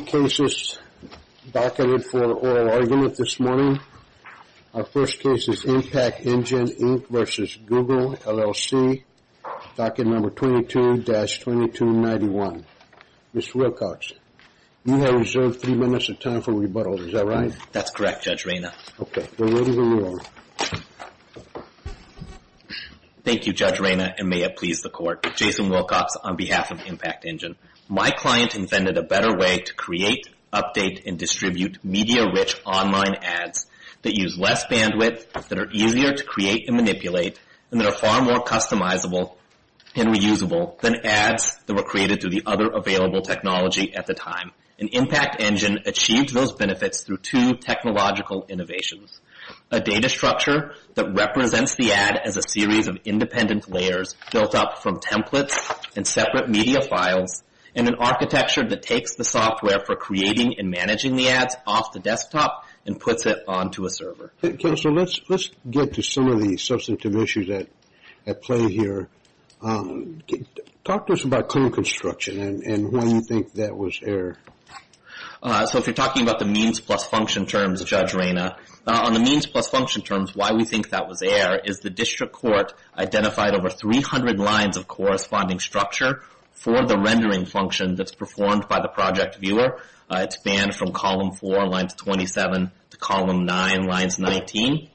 22-2291. Mr. Wilcox, you have reserved three minutes of time for rebuttal. Is that right? That's correct, Judge Reyna. Okay. We're ready to move on. Thank you, Judge Reyna, and may it please the Court. Jason Wilcox on behalf of Impact and distribute media-rich online ads that use less bandwidth, that are easier to create and manipulate, and that are far more customizable and reusable than ads that were created through the other available technology at the time. And Impact Engine achieved those benefits through two technological innovations. A data structure that represents the ad as a series of independent layers built up from templates and separate media files, and an architecture that takes the software for creating and managing the ads off the desktop and puts it onto a server. Counselor, let's get to some of the substantive issues at play here. Talk to us about code construction and why you think that was error. So if you're talking about the means plus function terms, Judge Reyna, on the means plus function terms, why we think that was error is the district court identified over 300 lines of corresponding structure for the rendering function that's performed by the project viewer. It's banned from column 4, lines 27, to column 9, lines 19.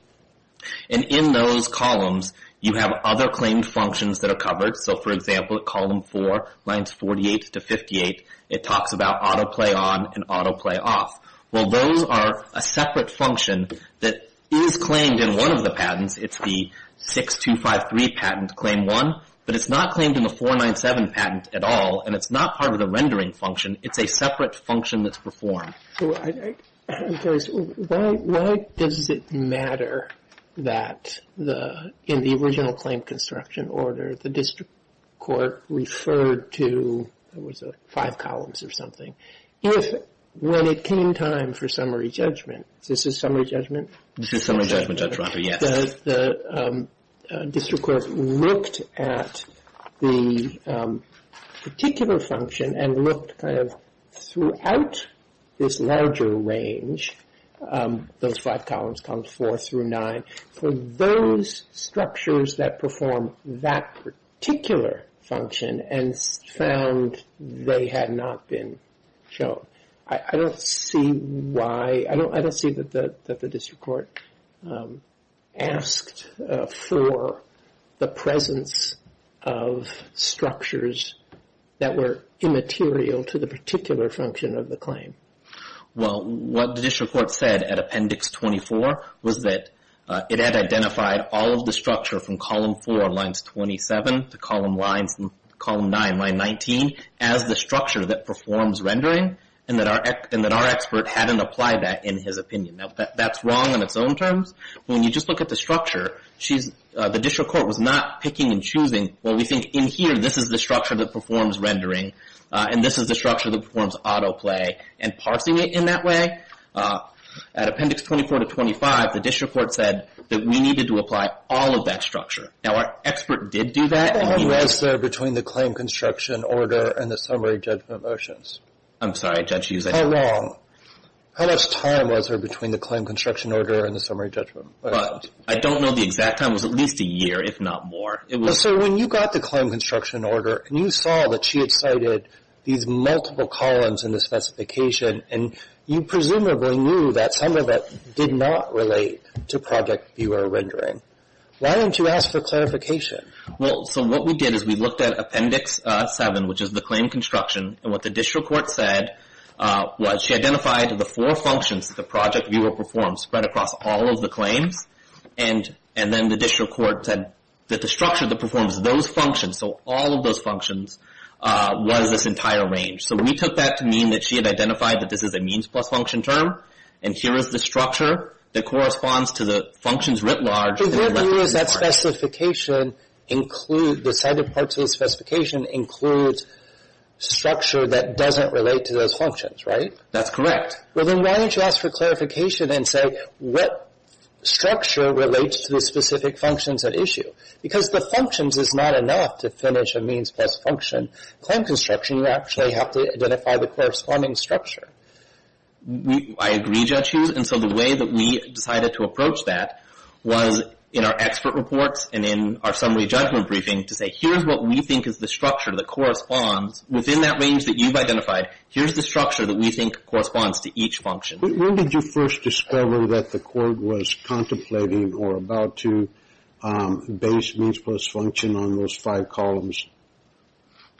And in those columns, you have other claimed functions that are covered. So for example, column 4, lines 48 to 58, it talks about autoplay on and autoplay off. Well, those are a separate function that is claimed in one of the patents. It's the 6253 patent claim 1, but it's not claimed in the 497 patent at all, and it's not part of the rendering function. It's a separate function that's performed. I'm curious, why does it matter that in the original claim construction order, the district court referred to, it was five columns or is this a summary judgment? This is a summary judgment, Judge Rother, yes. The district court looked at the particular function and looked kind of throughout this larger range, those five columns, columns 4 through 9, for those structures that perform that particular function and found they had not been shown. I don't see why, I don't see that the district court asked for the presence of structures that were immaterial to the particular function of the claim. Well, what the district court said at Appendix 24 was that it had identified all of the structure from column 4, lines 27, to column 9, line 19, as the structure that performs rendering and that our expert hadn't applied that in his opinion. Now, that's wrong on its own terms. When you just look at the structure, the district court was not picking and choosing, well, we think in here, this is the structure that performs rendering and this is the structure that performs autoplay and parsing it in that way. At Appendix 24 to 25, the district court said that we needed to apply all of that structure. Now, our expert did do that. How long was there between the claim construction order and the summary judgment motions? I'm sorry, Judge Hughes, I don't know. How long? How much time was there between the claim construction order and the summary judgment motions? I don't know the exact time, it was at least a year, if not more. So, when you got the claim construction order and you saw that she had cited these multiple columns in the specification and you presumably knew that some of it did not relate to project viewer rendering, why didn't you ask for clarification? Well, so what we did is we looked at Appendix 7, which is the claim construction, and what the district court said was she identified the four functions that the project viewer performs spread across all of the claims and then the district court said that the structure that performs those functions, so all of those functions, was this entire range. So, we took that to mean that she had identified that this is a means plus function term and here is the structure that corresponds to the functions writ large. But what we use that specification include, the cited parts of the specification include structure that doesn't relate to those functions, right? That's correct. Well, then why don't you ask for clarification and say what structure relates to the specific functions at issue? Because the functions is not enough to identify the corresponding structure. I agree, Judge Hughes, and so the way that we decided to approach that was in our expert reports and in our summary judgment briefing to say here's what we think is the structure that corresponds within that range that you've identified, here's the structure that we think corresponds to each function. When did you first discover that the court was contemplating or about to base means plus function on those five columns?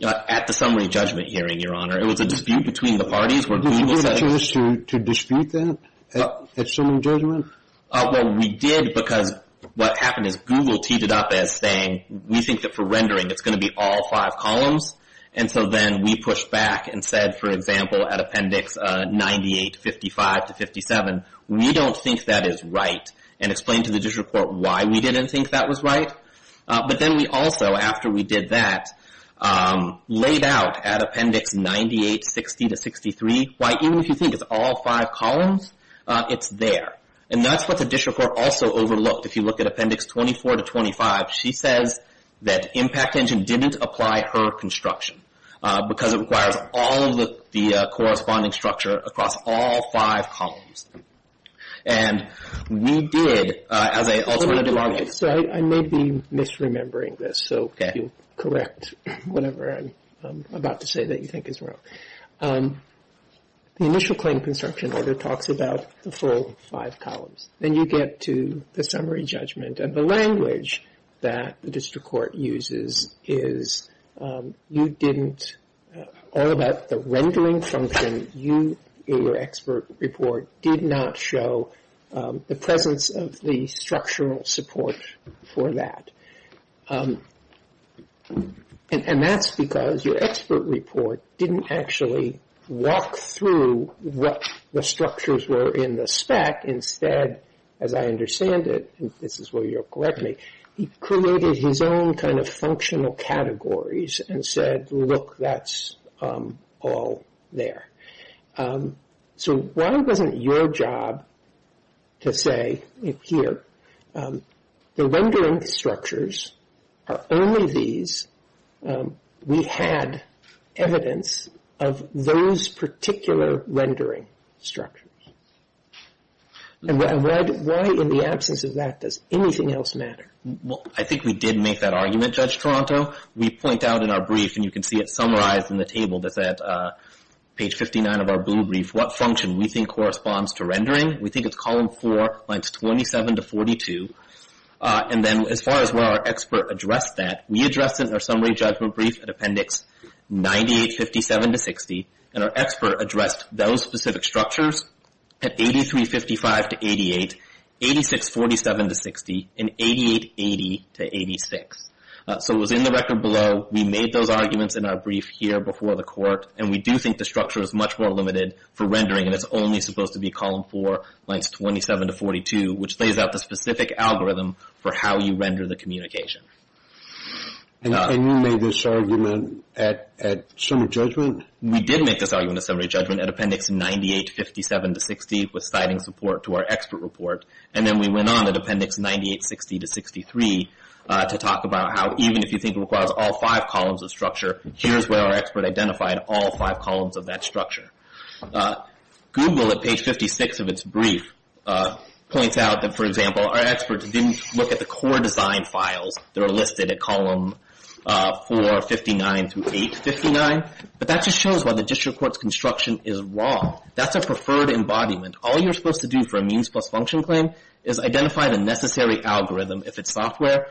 At the summary judgment hearing, Your Honor. It was a dispute between the parties where Google said... Did you get a chance to dispute that at summary judgment? Well, we did because what happened is Google teed it up as saying, we think that for rendering it's going to be all five columns, and so then we pushed back and said, for example, at appendix 98-55-57, we don't think that is right, and explained to the district court why we didn't think that was right. But then we did that, laid out at appendix 98-60-63, why even if you think it's all five columns, it's there. And that's what the district court also overlooked. If you look at appendix 24-25, she says that Impact Engine didn't apply her construction because it requires all of the corresponding structure across all five columns. And we did, as an alternative argument... I may be misremembering this, so correct whatever I'm about to say that you think is wrong. The initial claim construction order talks about the full five columns. Then you get to the summary judgment, and the language that the district court uses is, you didn't, all about the rendering function you in your expert report did not show the presence of the structural support for that. And that's because your expert report didn't actually walk through what the structures were in the spec. Instead, as I understand it, and this is where you'll correct me, he created his own kind of functional It really wasn't your job to say, here, the rendering structures are only these. We had evidence of those particular rendering structures. And why in the absence of that does anything else matter? Well, I think we did make that argument, Judge Toronto. We point out in our brief, and you can see it We think it's column four, lines 27 to 42. And then as far as where our expert addressed that, we addressed it in our summary judgment brief at appendix 98-57-60. And our expert addressed those specific structures at 83-55-88, 86-47-60, and 88-80-86. So it was in the record below. We made those arguments in our brief here before the court. And we do think the structure is much more limited for rendering. And it's only supposed to be column four, lines 27 to 42, which lays out the specific algorithm for how you render the communication. And you made this argument at summary judgment? We did make this argument at summary judgment at appendix 98-57-60 with citing support to our expert report. And then we went on at appendix 98-60-63 to talk about how even if you think it requires all five columns of structure, here's where our expert identified all five columns of that structure. Google at page 56 of its brief points out that, for example, our experts didn't look at the core design files that are listed at column 459-859. But that just shows why the district court's construction is wrong. That's a preferred embodiment. All you're supposed to do for a means plus function claim is identify the necessary algorithm. If it's software,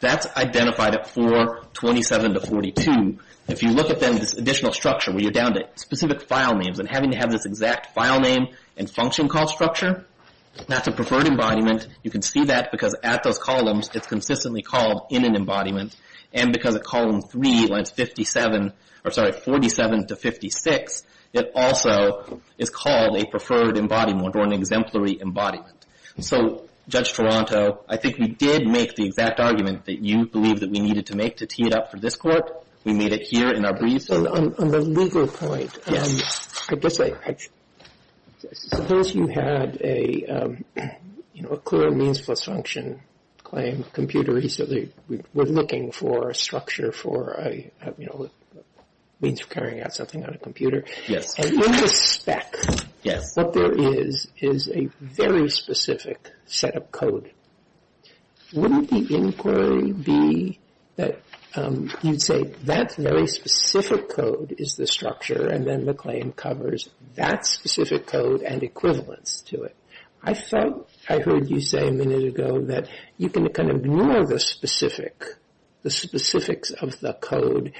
that's identified at 427-42. If you look at then this additional structure where you're down to specific file names and having to have this exact file name and function call structure, that's a preferred embodiment. You can see that because at those columns, it's consistently called in an embodiment. And because at column three, lines 47-56, it also is called a preferred embodiment or an exemplary embodiment. So, Judge Toronto, I think we did make the exact argument that you believed that we needed to make to tee it up for this court. We made it here in our briefs. On the legal point, I guess I suppose you had a, you know, a clear means plus function claim. Computer, we're looking for a structure for, you know, means for carrying out something on a computer. Yes. And in the spec, what there is is a very specific set of code. Wouldn't the inquiry be that you'd say that very specific code is the structure and then the claim covers that specific code and equivalence to it? I thought I heard you say a minute ago that you can kind of ignore the specific, the specifics of the code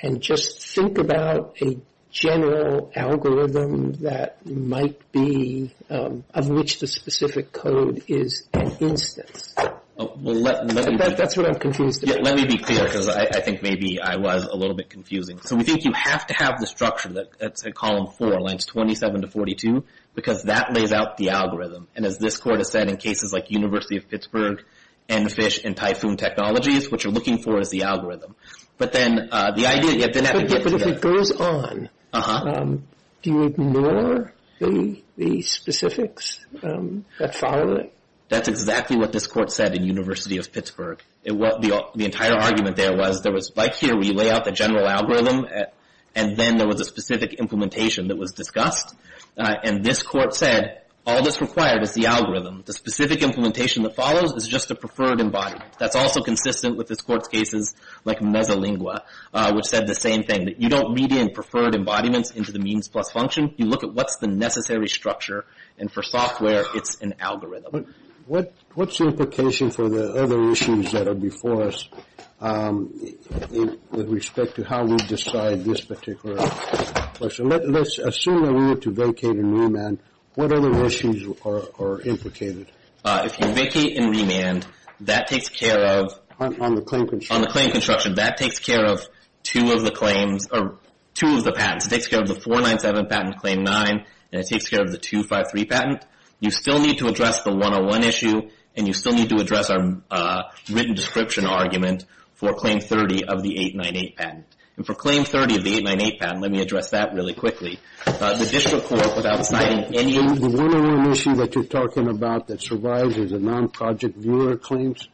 and just think about a general algorithm that might be of which the specific code is an instance. That's what I'm confused about. Let me be clear because I think maybe I was a little bit confusing. So, we think you have to have the structure that's at column four, lines 27-42, because that lays out the algorithm. And as this court has said in cases like University of Pittsburgh and FISH and Typhoon Technologies, what you're looking for is the algorithm. But then the idea, you have to have a good idea. But if it goes on, do you ignore the specifics that follow it? That's exactly what this court said in University of Pittsburgh. The entire argument there was there was, like here, we lay out the general algorithm and then there was a specific implementation that was discussed. And this court said all that's required is the algorithm. The specific implementation that follows is just a preferred embodiment. That's also consistent with this court's cases like Mesolingua, which said the same thing, that you don't read in preferred embodiments into the means plus function. You look at what's the necessary structure. And for software, it's an algorithm. What's the implication for the other issues that are before us with respect to how we decide this particular question? Let's assume that we were to vacate and remand. What other issues are implicated? If you vacate and remand, that takes care of – On the claim construction. On the claim construction, that takes care of two of the claims or two of the patents. It takes care of the 497 patent, Claim 9, and it takes care of the 253 patent. You still need to address the 101 issue and you still need to address our written description argument for Claim 30 of the 898 patent. And for Claim 30 of the 898 patent, let me address that really quickly. The district court, without citing any – The one other issue that you're talking about that survives is the non-project viewer claims.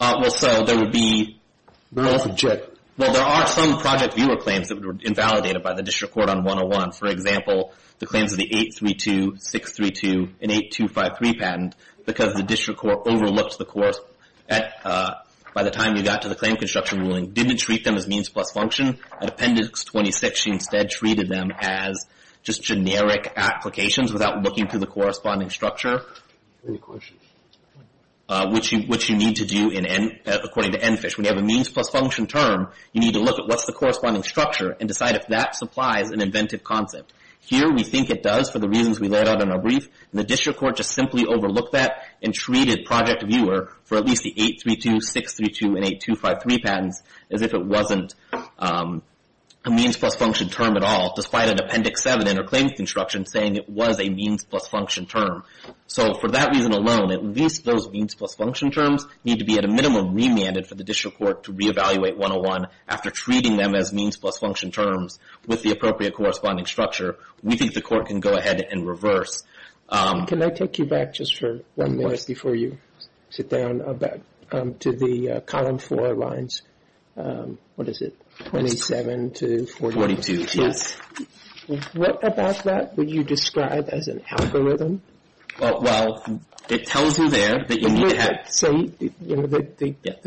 Well, so there would be – Not all subject. Well, there are some project viewer claims that were invalidated by the district court on 101. For example, the claims of the 832, 632, and 8253 patent, because the district court overlooked the court by the time you got to the claim construction ruling, didn't treat them as means plus function. At Appendix 26, she instead treated them as just generic applications without looking to the corresponding structure. Any questions? Which you need to do according to ENFISH. When you have a means plus function term, you need to look at what's the corresponding structure and decide if that supplies an inventive concept. Here, we think it does for the reasons we laid out in our brief, and the district court just simply overlooked that and treated project viewer for at least the 832, 632, and 8253 patents as if it wasn't a means plus function term at all, despite an Appendix 7 interclaims construction saying it was a means plus function term. So for that reason alone, at least those means plus function terms need to be at a minimum remanded for the district court to reevaluate 101 after treating them as means plus function terms with the appropriate corresponding structure. We think the court can go ahead and reverse. Can I take you back just for one minute before you sit down to the column four lines, what is it, 27 to 42? Yes. What about that would you describe as an algorithm? Well, it tells you there that you need to have... Say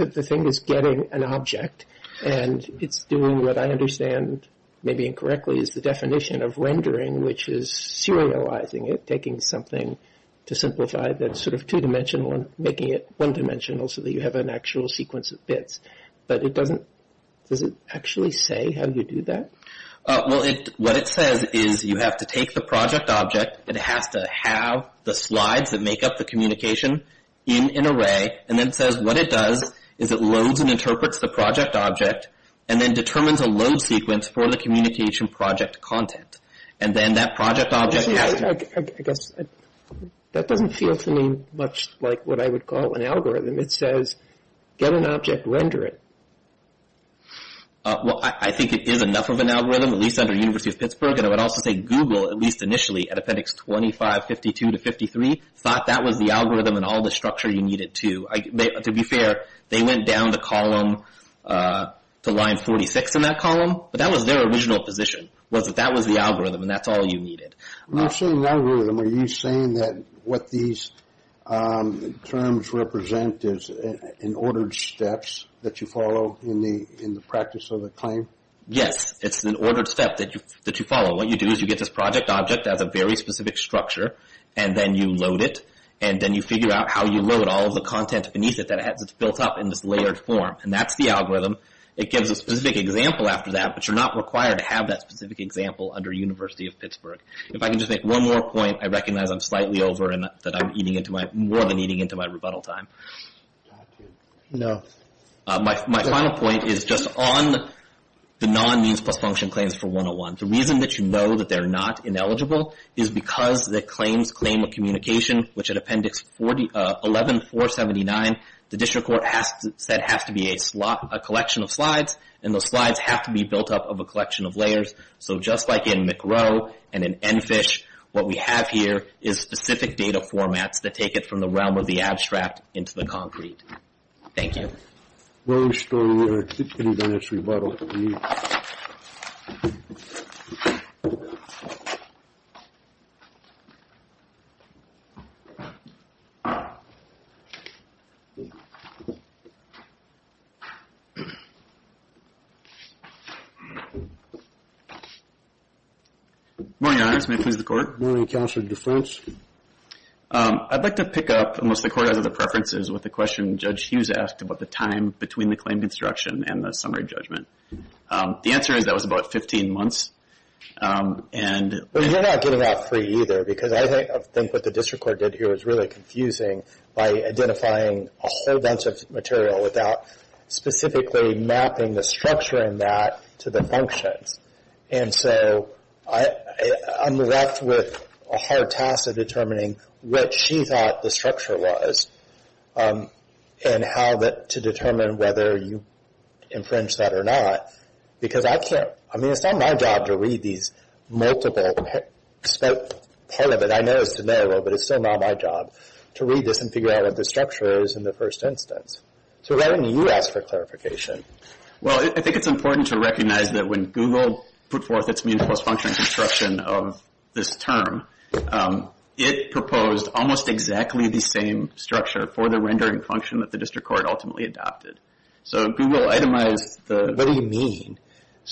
the thing is getting an object, and it's doing what I understand, maybe incorrectly, is the definition of rendering, which is serializing it, taking something to simplify that's sort of two-dimensional and making it one-dimensional so that you have an actual sequence of bits. But it doesn't... Does it actually say how you do that? Well, what it says is you have to take the project object, it has to have the slides that make up the communication in an array, and then it says what it does is it loads and interprets the project object and then determines a load sequence for the communication project content. And then that project object has... I guess that doesn't feel to me much like what I would call an algorithm. It says get an object, render it. Well, I think it is enough of an algorithm, at least under the University of Pittsburgh, and I would also say Google, at least initially, at appendix 25, 52 to 53, thought that was the algorithm and all the structure you needed to. To be fair, they went down to column... to line 46 in that column, but that was their original position was that that was the algorithm and that's all you needed. When you're saying algorithm, are you saying that what these terms represent is in ordered steps that you follow in the practice of the claim? Yes, it's an ordered step that you follow. What you do is you get this project object that has a very specific structure and then you load it and then you figure out how you load all of the content beneath it that has it built up in this layered form. And that's the algorithm. It gives a specific example after that, but you're not required to have that specific example under University of Pittsburgh. If I can just make one more point, I recognize I'm slightly over and that I'm eating into my... more than eating into my rebuttal time. No. My final point is just on the non-means-plus-function claims for 101. The reason that you know that they're not ineligible is because the claims claim of communication, which at Appendix 11-479, the district court said has to be a collection of slides, and those slides have to be built up of a collection of layers. So just like in McRow and in EnFISH, what we have here is specific data formats that take it from the realm of the abstract into the concrete. Thank you. Long story. We're going to keep getting back to rebuttal. Good morning, Your Honors. May it please the Court. Good morning, Counselor DeFrance. I'd like to pick up, unless the Court has other preferences, with the question Judge Hughes asked about the time between the claim construction and the summary judgment. The answer is that was about 15 months, and... Well, you're not getting that free either, because I think what the district court did here was really confusing by identifying a whole bunch of material without specifically mapping the structure in that to the functions. And so I'm left with a hard task of determining what she thought the structure was and how to determine whether you infringed that or not, because I can't... I mean, it's not my job to read these multiple... Part of it, I know, is to know, but it's still not my job to read this and figure out what the structure is in the first instance. So why don't you ask for clarification? Well, I think it's important to recognize that when Google put forth its mean force function construction of this term, it proposed almost exactly the same structure for the rendering function that the district court ultimately adopted. So Google itemized the... What do you mean?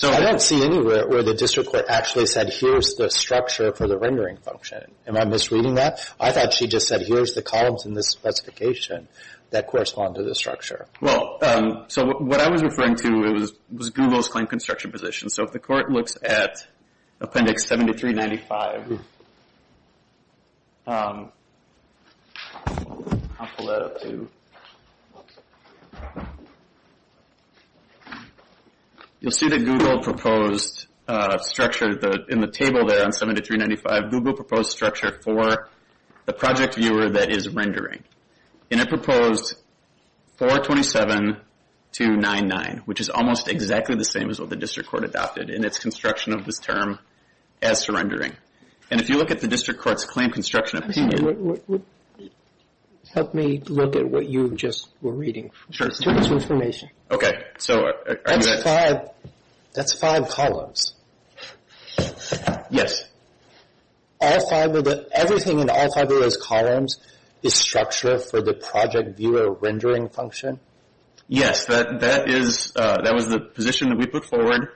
I don't see anywhere where the district court actually said, here's the structure for the rendering function. Am I misreading that? I thought she just said, here's the columns in this specification that correspond to the structure. Well, so what I was referring to was Google's claim construction position. So if the court looks at Appendix 7395... I'll pull that up to... You'll see that Google proposed structure in the table there on 7395. Google proposed structure for the project viewer that is rendering. And it proposed 427-299, which is almost exactly the same as what the district court adopted in its construction of this term as surrendering. And if you look at the district court's claim construction opinion... Help me look at what you just were reading. Sure. Give us information. Okay. That's five columns. Yes. Everything in all five of those columns is structure for the project viewer rendering function? Yes. That was the position that we put forward.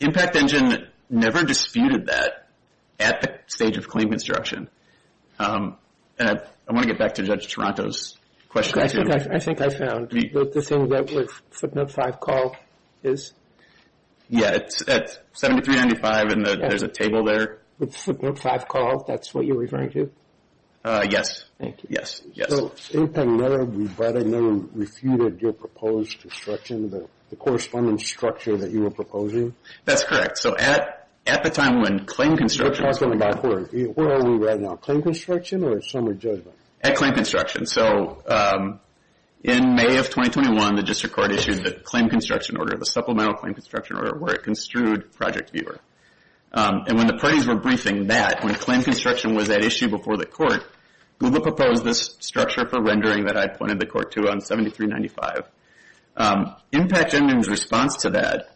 Impact Engine never disputed that at the stage of claim construction. And I want to get back to Judge Toronto's question. I think I found what the thing that was footnote 5 call is. Yeah, it's at 7395, and there's a table there. Footnote 5 call, that's what you're referring to? Yes. Thank you. Yes, yes. So at the same time, we've rather never refuted your proposed construction, the correspondence structure that you were proposing? That's correct. So at the time when claim construction... We're talking backwards. Where are we right now? Claim construction or summary judgment? At claim construction. So in May of 2021, the district court issued the claim construction order, the supplemental claim construction order, where it construed project viewer. And when the parties were briefing that, when claim construction was at issue before the court, Google proposed this structure for rendering that I pointed the court to on 7395. Impact Engine's response to that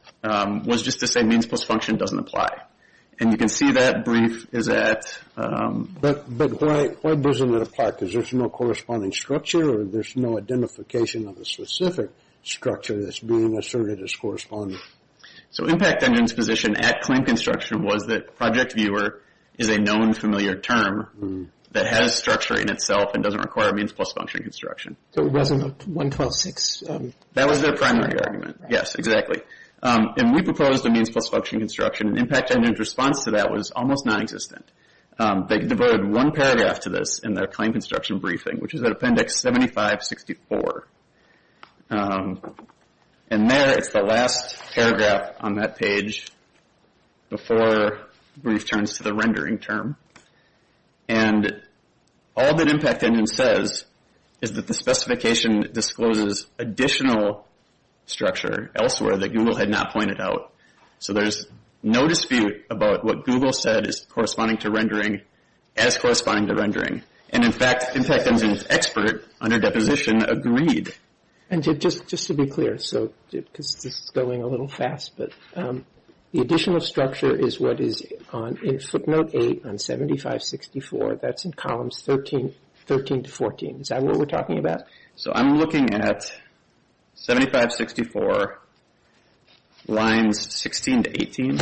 was just to say means plus function doesn't apply. And you can see that brief is at... But why doesn't it apply? Because there's no corresponding structure, or there's no identification of a specific structure that's being asserted as corresponding. So Impact Engine's position at claim construction was that project viewer is a known, familiar term that has structure in itself and doesn't require means plus function construction. So it wasn't a 126? That was their primary argument. Yes, exactly. And we proposed a means plus function construction, and Impact Engine's response to that was almost non-existent. They devoted one paragraph to this in their claim construction briefing, which is at Appendix 7564. And there, it's the last paragraph on that page before the brief turns to the rendering term. And all that Impact Engine says is that the specification discloses additional structure elsewhere that Google had not pointed out. So there's no dispute about what Google said is corresponding to rendering as corresponding to rendering. And in fact, Impact Engine's expert, under deposition, agreed. And just to be clear, because this is going a little fast, but the additional structure is what is in footnote 8 on 7564. That's in columns 13 to 14. Is that what we're talking about? So I'm looking at 7564, lines 16 to 18.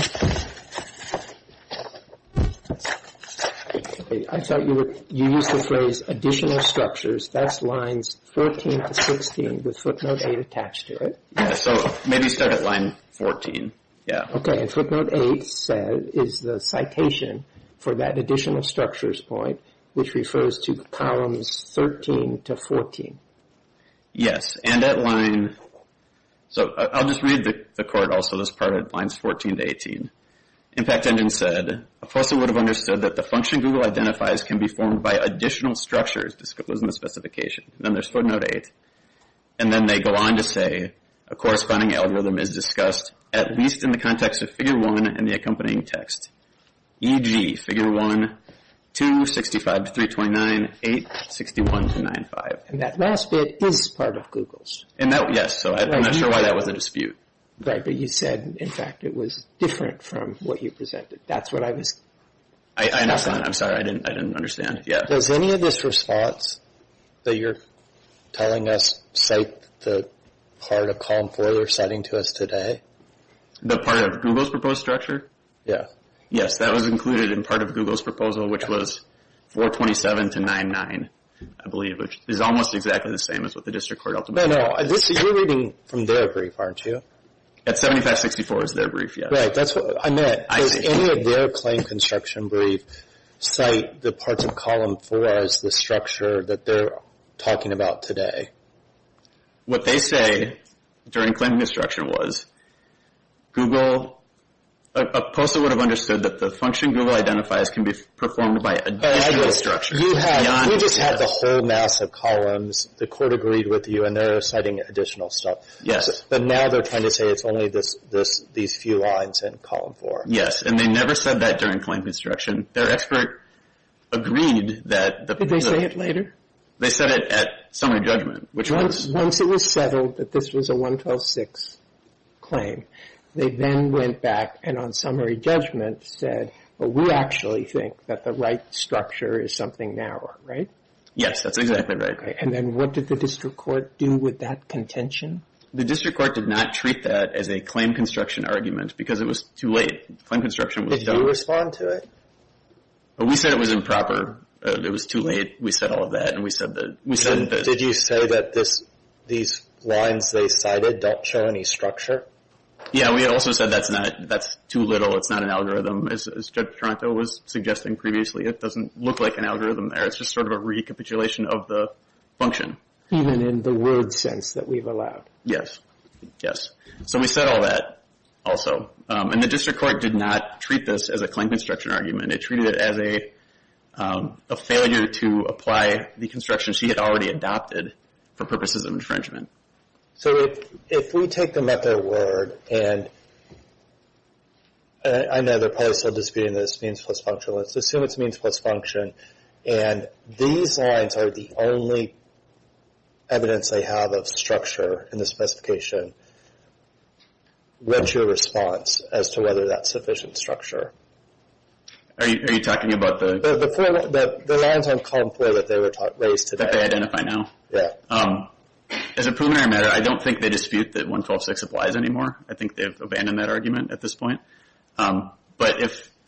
I thought you used the phrase additional structures. That's lines 13 to 16 with footnote 8 attached to it. Yeah, so maybe start at line 14, yeah. Okay, and footnote 8 is the citation for that additional structures point, which refers to columns 13 to 14. Yes, and at line... So I'll just read the court also, this part at lines 14 to 18. Impact Engine said, a person would have understood that the function Google identifies can be formed by additional structures disclosed in the specification. And then there's footnote 8. And then they go on to say, a corresponding algorithm is discussed at least in the context of figure 1 and the accompanying text, e.g., figure 1, 2, 65 to 329, 8, 61 to 95. And that last bit is part of Google's. Yes, so I'm not sure why that was a dispute. Right, but you said, in fact, it was different from what you presented. That's what I was... I'm sorry, I didn't understand. Does any of this response that you're telling us cite the part of column 4 they're citing to us today? The part of Google's proposed structure? Yeah. Yes, that was included in part of Google's proposal, which was 427 to 99, I believe, which is almost exactly the same as what the district court ultimately... No, no, you're reading from their brief, aren't you? Yes, 7564 is their brief, yes. Right, that's what I meant. I see. Does any of their claim construction brief cite the parts of column 4 as the structure that they're talking about today? What they say during claim construction was Google... a person would have understood that the function Google identifies can be performed by additional structures. You just had the whole mass of columns. The court agreed with you, and they're citing additional stuff. Yes. But now they're trying to say it's only these few lines in column 4. Yes, and they never said that during claim construction. Their expert agreed that... Did they say it later? They said it at summary judgment, which was... Once it was settled that this was a 112.6 claim, they then went back and on summary judgment said, We actually think that the right structure is something narrower, right? Yes, that's exactly right. And then what did the district court do with that contention? The district court did not treat that as a claim construction argument because it was too late. Did you respond to it? We said it was improper. It was too late. We said all of that, and we said that... Did you say that these lines they cited don't show any structure? Yeah, we also said that's too little. It's not an algorithm, as Judge Toronto was suggesting previously. It doesn't look like an algorithm there. It's just sort of a recapitulation of the function. Even in the word sense that we've allowed? Yes, yes. So we said all that also. And the district court did not treat this as a claim construction argument. It treated it as a failure to apply the construction she had already adopted for purposes of infringement. So if we take them at their word, and I know they're probably still disputing this means plus function. Let's assume it's means plus function, and these lines are the only evidence they have of structure in the specification. What's your response as to whether that's sufficient structure? Are you talking about the... The lines on column 4 that they raised today. That they identify now? Yeah. As a preliminary matter, I don't think they dispute that 112.6 applies anymore. I think they've abandoned that argument at this point. But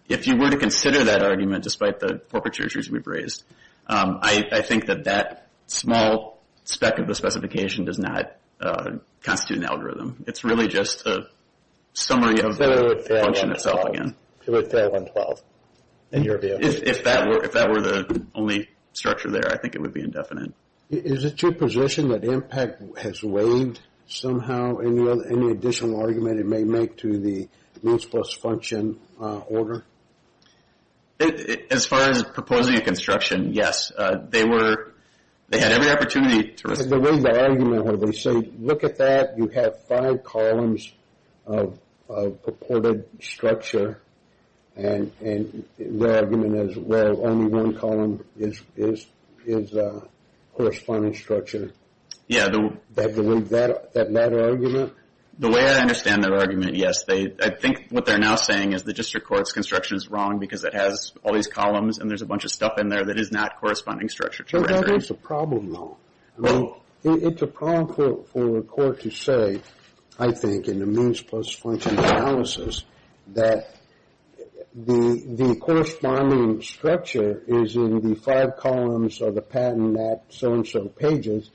if you were to consider that argument, despite the corporate treaties we've raised, I think that that small speck of the specification does not constitute an algorithm. It's really just a summary of the function itself again. So it would fail on 12, in your view? If that were the only structure there, I think it would be indefinite. Is it your position that impact has weighed somehow any additional argument it may make to the means plus function order? As far as proposing a construction, yes. They were... They had every opportunity to... The way the argument was, they say, look at that, you have five columns of purported structure, and the argument is, well, only one column is corresponding structure. Yeah. That matter argument? The way I understand that argument, yes. I think what they're now saying is the district court's construction is wrong because it has all these columns and there's a bunch of stuff in there that is not corresponding structure to rendering. That is a problem, though. I mean, it's a problem for the court to say, I think, in the means plus function analysis, that the corresponding structure is in the five columns of the patent, not so-and-so pages.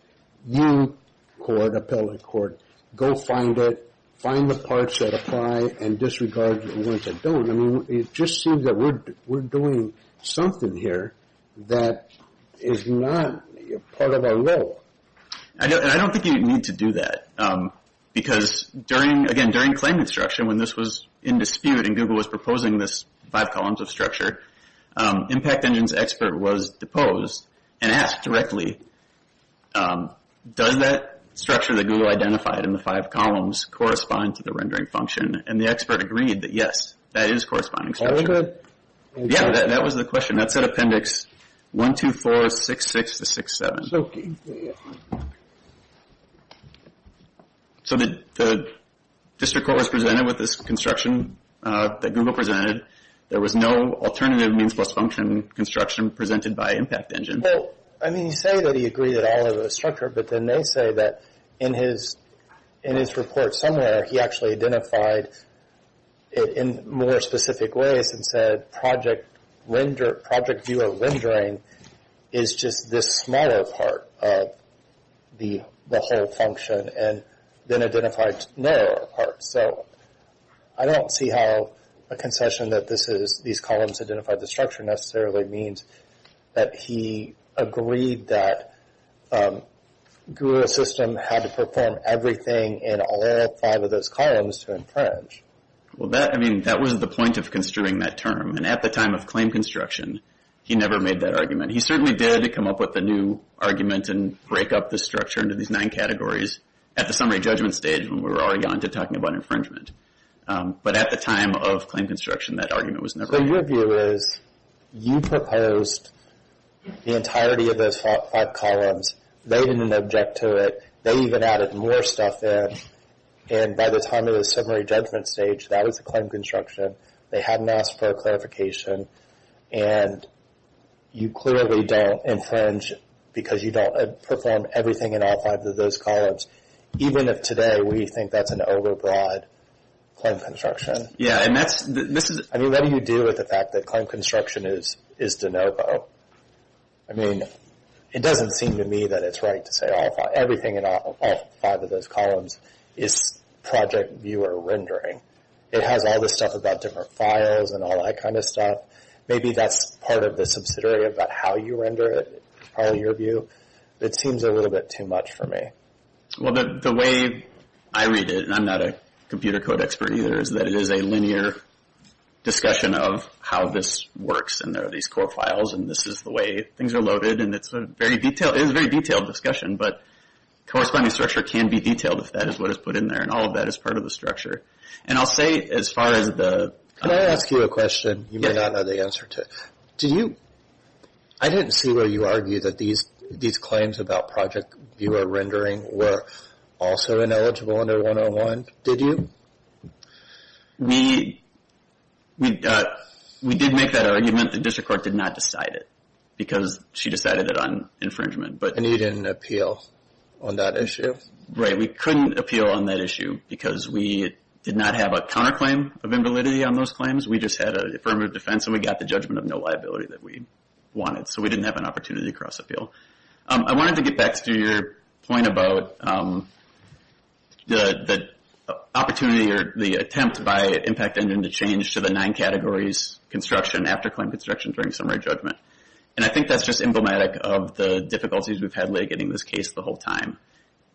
You, court, appellate court, go find it, find the parts that apply and disregard the ones that don't. I mean, it just seems that we're doing something here that is not part of our role. I don't think you need to do that because, again, during claim construction, when this was in dispute and Google was proposing this five columns of structure, Impact Engine's expert was deposed and asked directly, does that structure that Google identified in the five columns correspond to the rendering function? And the expert agreed that, yes, that is corresponding structure. All of it? Yeah, that was the question. And that's at Appendix 12466-67. So the district court was presented with this construction that Google presented. There was no alternative means plus function construction presented by Impact Engine. Well, I mean, you say that he agreed that all of it was structured, but then they say that in his report somewhere, he actually identified it in more specific ways and said project view of rendering is just this smaller part of the whole function and then identified narrower parts. So I don't see how a concession that these columns identify the structure necessarily means that he agreed that Google's system had to perform everything in all five of those columns to infringe. Well, I mean, that was the point of construing that term. And at the time of claim construction, he never made that argument. He certainly did come up with a new argument and break up the structure into these nine categories at the summary judgment stage when we were already on to talking about infringement. But at the time of claim construction, that argument was never made. So your view is you proposed the entirety of those five columns, made an object to it, they even added more stuff in, and by the time of the summary judgment stage, that was the claim construction. They hadn't asked for a clarification, and you clearly don't infringe because you don't perform everything in all five of those columns, even if today we think that's an overbroad claim construction. Yeah, and that's – this is – I mean, what do you do with the fact that claim construction is de novo? I mean, it doesn't seem to me that it's right to say all five – is project viewer rendering. It has all this stuff about different files and all that kind of stuff. Maybe that's part of the subsidiary about how you render it, probably your view. It seems a little bit too much for me. Well, the way I read it, and I'm not a computer code expert either, is that it is a linear discussion of how this works, and there are these core files, and this is the way things are loaded, and it's a very detailed – the corresponding structure can be detailed if that is what is put in there, and all of that is part of the structure. And I'll say as far as the – Can I ask you a question you may not know the answer to? Do you – I didn't see where you argued that these claims about project viewer rendering were also ineligible under 101, did you? We did make that argument. The district court did not decide it because she decided it on infringement. And you didn't appeal on that issue? Right, we couldn't appeal on that issue because we did not have a counterclaim of invalidity on those claims. We just had an affirmative defense, and we got the judgment of no liability that we wanted. So we didn't have an opportunity to cross-appeal. I wanted to get back to your point about the opportunity or the attempt by Impact Engine to change to the nine categories construction, after claim construction, during summary judgment. And I think that's just emblematic of the difficulties we've had late getting this case the whole time.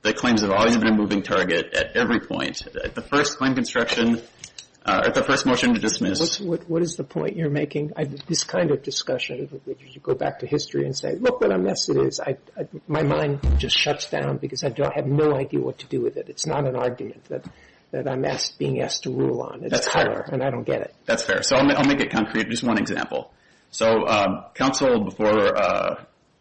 The claims have always been a moving target at every point. At the first claim construction, at the first motion to dismiss. What is the point you're making? This kind of discussion, you go back to history and say, look what a mess it is. My mind just shuts down because I have no idea what to do with it. It's not an argument that I'm being asked to rule on. That's fair. And I don't get it. That's fair. So I'll make it concrete with just one example. So counsel, before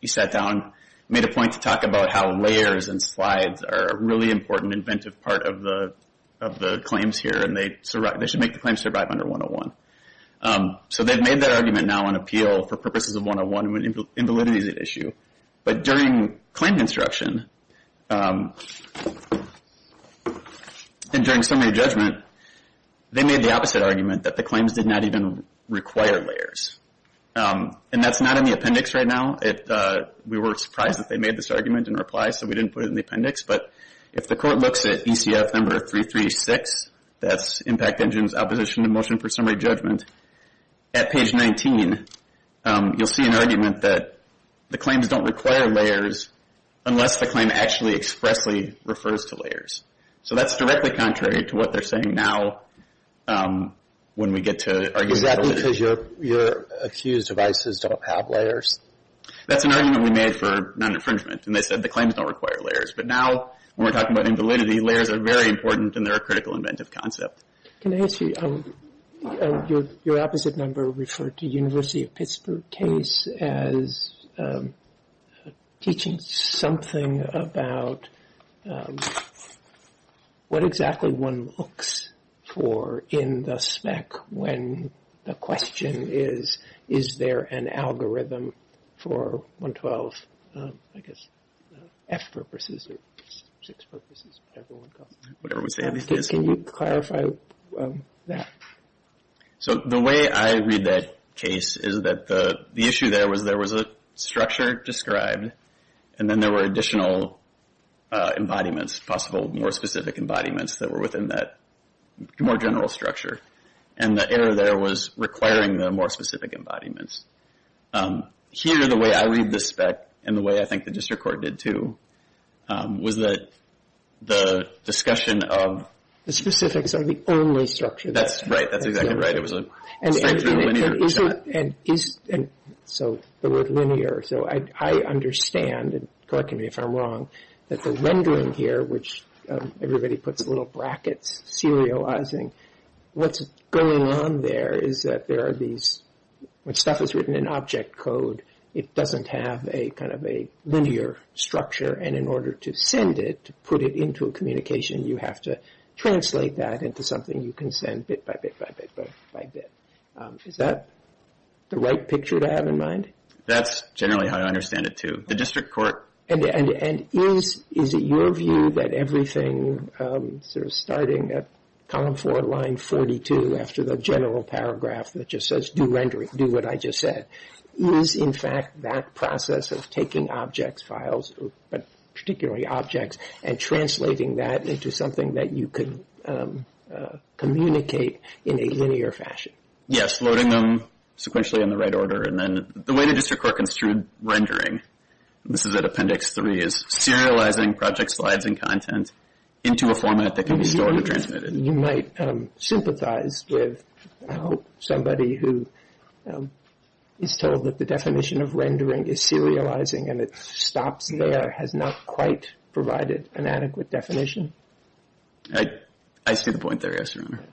you sat down, made a point to talk about how layers and slides are a really important inventive part of the claims here, and they should make the claims survive under 101. So they've made that argument now on appeal for purposes of 101 when invalidity is at issue. But during claim construction and during summary judgment, they made the opposite argument that the claims did not even require layers. And that's not in the appendix right now. We were surprised that they made this argument in reply, so we didn't put it in the appendix. But if the court looks at ECF number 336, that's impact engines, opposition to motion for summary judgment, at page 19, you'll see an argument that the claims don't require layers unless the claim actually expressly refers to layers. So that's directly contrary to what they're saying now when we get to argument validity. Is that because you're accused of ISIS don't have layers? That's an argument we made for non-infringement, and they said the claims don't require layers. But now when we're talking about invalidity, layers are very important and they're a critical inventive concept. Can I ask you, your opposite member referred to University of Pittsburgh case as teaching something about what exactly one looks for in the spec when the question is, is there an algorithm for 112, I guess, F purposes or six purposes, whatever one calls it. Whatever we say. Can you clarify that? So the way I read that case is that the issue there was there was a structure described, and then there were additional embodiments, possible more specific embodiments that were within that more general structure. And the error there was requiring the more specific embodiments. Here, the way I read the spec, and the way I think the district court did too, was that the discussion of... Right, that's exactly right. So the word linear, so I understand, correct me if I'm wrong, that the rendering here, which everybody puts little brackets serializing, what's going on there is that there are these, when stuff is written in object code, it doesn't have a kind of a linear structure, and in order to send it, to put it into a communication, you have to translate that into something you can send bit by bit by bit by bit. Is that the right picture to have in mind? That's generally how I understand it too. The district court. And is it your view that everything, sort of starting at column four, line 42, after the general paragraph that just says do rendering, do what I just said, is in fact that process of taking objects files, but particularly objects, and translating that into something that you can communicate in a linear fashion? Yes, loading them sequentially in the right order, and then the way the district court construed rendering, this is at appendix three, is serializing project slides and content into a format that can be stored and transmitted. You might sympathize with somebody who is told that the definition of rendering is serializing and it stops there, has not quite provided an adequate definition? I see the point there, yes, Your Honor.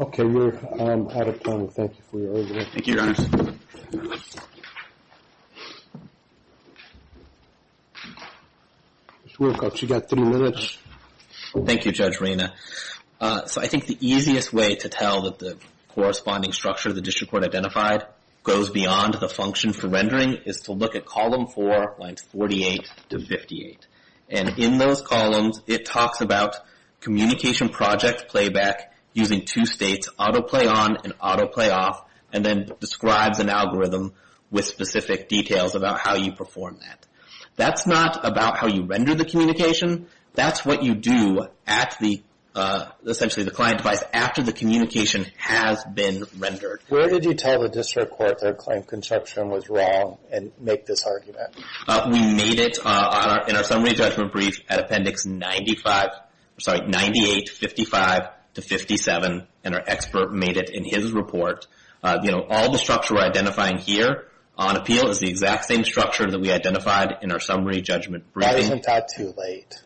Okay, we're out of time. Thank you for your argument. Thank you, Your Honors. Ms. Wilcox, you've got three minutes. Thank you, Judge Reina. So I think the easiest way to tell that the corresponding structure the district court identified goes beyond the function for rendering is to look at column four, lines 48 to 58, and in those columns it talks about communication project playback using two states, autoplay on and autoplay off, and then describes an algorithm with specific details about how you perform that. That's not about how you render the communication. That's what you do at essentially the client device after the communication has been rendered. Where did you tell the district court that client construction was wrong and make this argument? We made it in our summary judgment brief at appendix 98, 55 to 57, and our expert made it in his report. All the structure we're identifying here on appeal is the exact same structure that we identified in our summary judgment briefing. Why isn't that too late?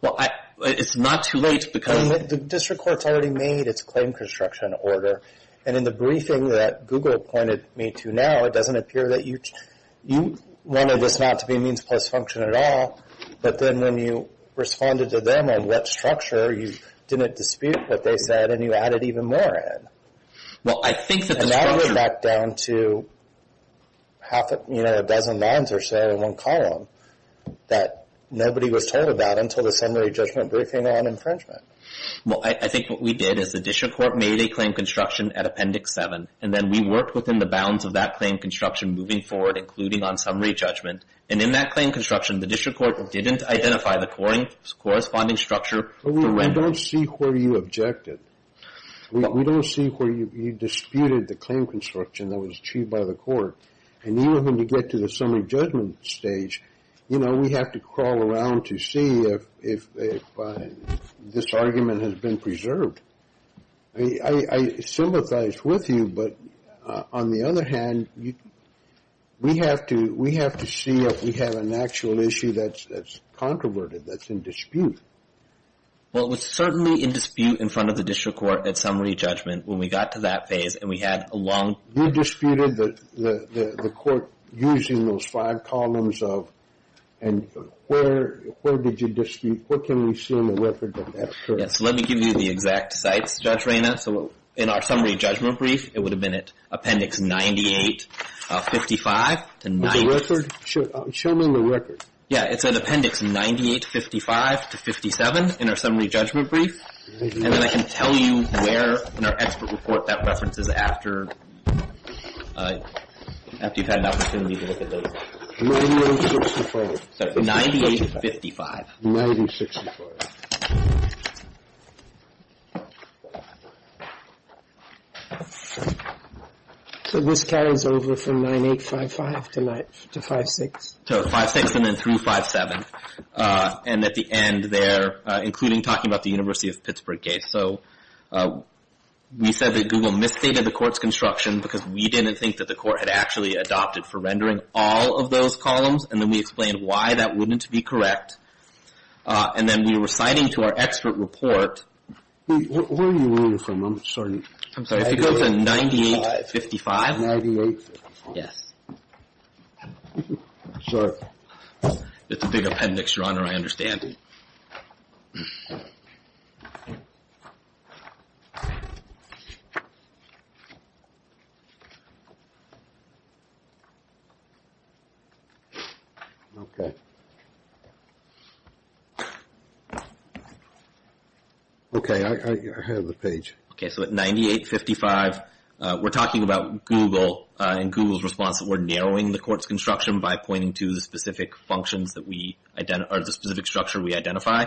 Well, it's not too late because... The district court's already made its claim construction order, and in the briefing that Google pointed me to now, it doesn't appear that you wanted this not to be a means plus function at all, but then when you responded to them on what structure, you didn't dispute what they said and you added even more in. Well, I think that the structure... And now we're back down to half a dozen lines or so in one column that nobody was told about until the summary judgment briefing on infringement. Well, I think what we did is the district court made a claim construction at appendix 7, and then we worked within the bounds of that claim construction moving forward, including on summary judgment. And in that claim construction, the district court didn't identify the corresponding structure. We don't see where you objected. We don't see where you disputed the claim construction that was achieved by the court. And even when you get to the summary judgment stage, you know, we have to crawl around to see if this argument has been preserved. I sympathize with you, but on the other hand, we have to see if we have an actual issue that's controverted, that's in dispute. Well, it was certainly in dispute in front of the district court at summary judgment when we got to that phase and we had a long... You disputed the court using those five columns of... And where did you dispute? What can we see in the record of that? Yes, let me give you the exact sites, Judge Reyna. So in our summary judgment brief, it would have been at appendix 98-55. The record? Show me the record. Yeah, it's at appendix 98-55-57 in our summary judgment brief. And then I can tell you where in our expert report that reference is after you've had an opportunity to look at those. 98-55. 98-55. 98-55. So this carries over from 98-55 to 5-6? To 5-6 and then through 5-7. And at the end there, including talking about the University of Pittsburgh case. So we said that Google misstated the court's construction because we didn't think that the court had actually adopted for rendering all of those columns and then we explained why that wouldn't be correct. And then we were citing to our expert report... Wait, where are you learning from? I'm sorry. I'm sorry, if you go to 98-55... 98-55. Yes. Sorry. It's a big appendix, Your Honor, I understand. Okay. Okay, I have the page. Okay, so at 98-55, we're talking about Google and Google's response that we're narrowing the court's construction by pointing to the specific functions that we... or the specific structure we identify.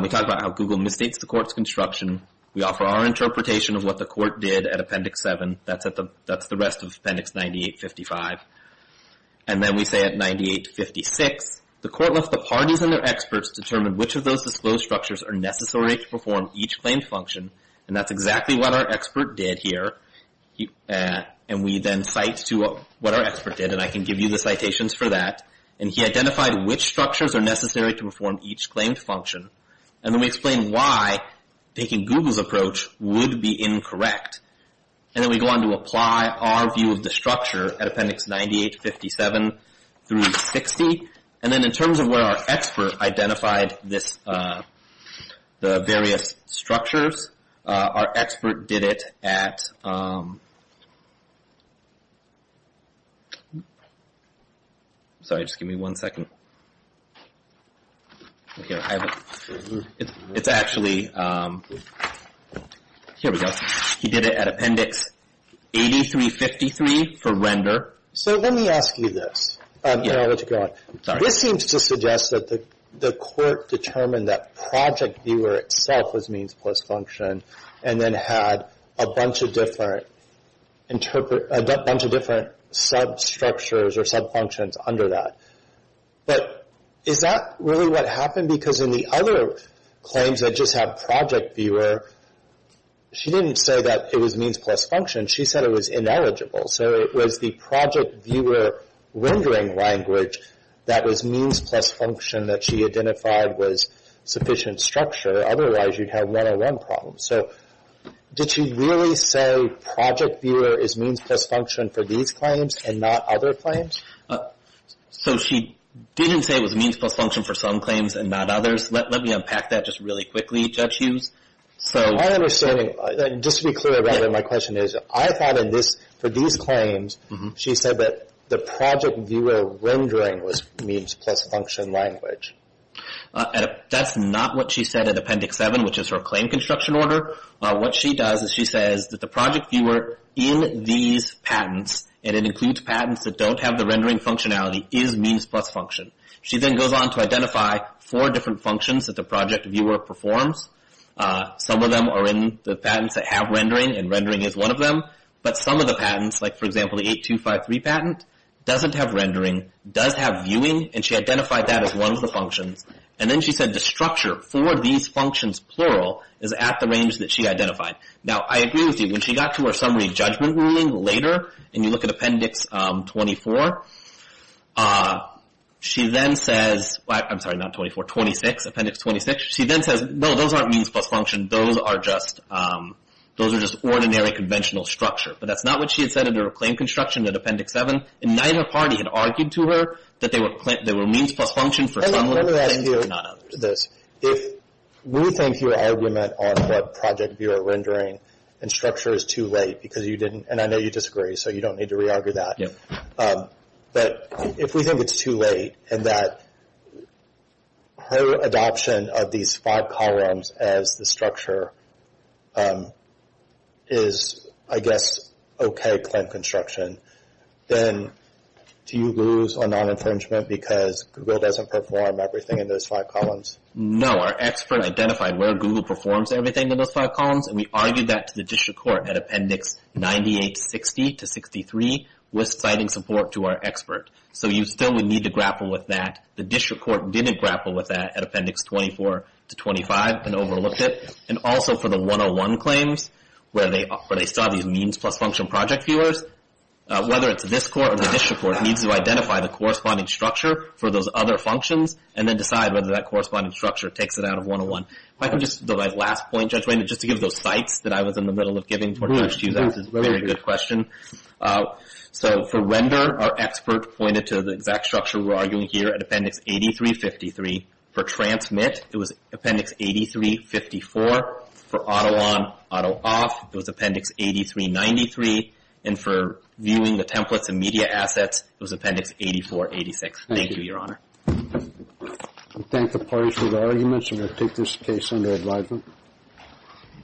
We talk about how Google misstates the court's construction. We offer our interpretation of what the court did at Appendix 7. That's the rest of Appendix 98-55. And then we say at 98-56, the court left the parties and their experts to determine which of those disclosed structures are necessary to perform each claimed function and that's exactly what our expert did here. And we then cite to what our expert did, and I can give you the citations for that. And he identified which structures are necessary to perform each claimed function. And then we explain why taking Google's approach would be incorrect. And then we go on to apply our view of the structure at Appendix 98-57 through 60. And then in terms of where our expert identified this... the various structures, our expert did it at... Sorry, just give me one second. It's actually... Here we go. He did it at Appendix 83-53 for render. So let me ask you this. Yeah, go ahead. This seems to suggest that the court determined that Project Viewer itself was means plus function and then had a bunch of different sub-structures or sub-functions under that. But is that really what happened? Because in the other claims that just had Project Viewer, she didn't say that it was means plus function. She said it was ineligible. So it was the Project Viewer rendering language that was means plus function that she identified was sufficient structure. Otherwise, you'd have one-on-one problems. So did she really say Project Viewer is means plus function for these claims and not other claims? So she didn't say it was means plus function for some claims and not others? Let me unpack that just really quickly, Judge Hughes. My understanding, just to be clear about it, my question is, I thought for these claims, she said that the Project Viewer rendering was means plus function language. That's not what she said in Appendix 7, which is her claim construction order. What she does is she says that the Project Viewer in these patents, and it includes patents that don't have the rendering functionality, is means plus function. She then goes on to identify four different functions that the Project Viewer performs. Some of them are in the patents that have rendering, and rendering is one of them. But some of the patents, like, for example, the 8253 patent, doesn't have rendering, does have viewing, and she identified that as one of the functions. And then she said the structure for these functions, plural, is at the range that she identified. Now, I agree with you. When she got to her summary judgment ruling later, and you look at Appendix 24, she then says, I'm sorry, not 24, 26, Appendix 26, she then says, no, those aren't means plus function. Those are just ordinary conventional structure. But that's not what she had said in her claim construction in Appendix 7. Neither party had argued to her that they were means plus function for some of the things, but not others. If we think your argument on what Project Viewer rendering and structure is too late, because you didn't, and I know you disagree, so you don't need to re-argue that. But if we think it's too late, and that her adoption of these five columns as the structure is, I guess, okay claim construction, then do you lose on non-infringement because Google doesn't perform everything in those five columns? No. Our expert identified where Google performs everything in those five columns, and we argued that to the district court at Appendix 98-60 to 63 with citing support to our expert. So you still would need to grapple with that. The district court didn't grapple with that at Appendix 24-25 and overlooked it. And also for the 101 claims where they saw these means plus function Project Viewers, whether it's this court or the district court needs to identify the corresponding structure for those other functions and then decide whether that corresponding structure takes it out of 101. If I could just, my last point, Judge Wayne, just to give those sites that I was in the middle of giving to you, that's a very good question. So for render, our expert pointed to the exact structure we're arguing here at Appendix 83-53. For transmit, it was Appendix 83-54. For auto on, auto off, it was Appendix 83-93. And for viewing the templates and media assets, it was Appendix 84-86. Thank you, Your Honor. I thank the parties for their arguments, and I take this case under advisement.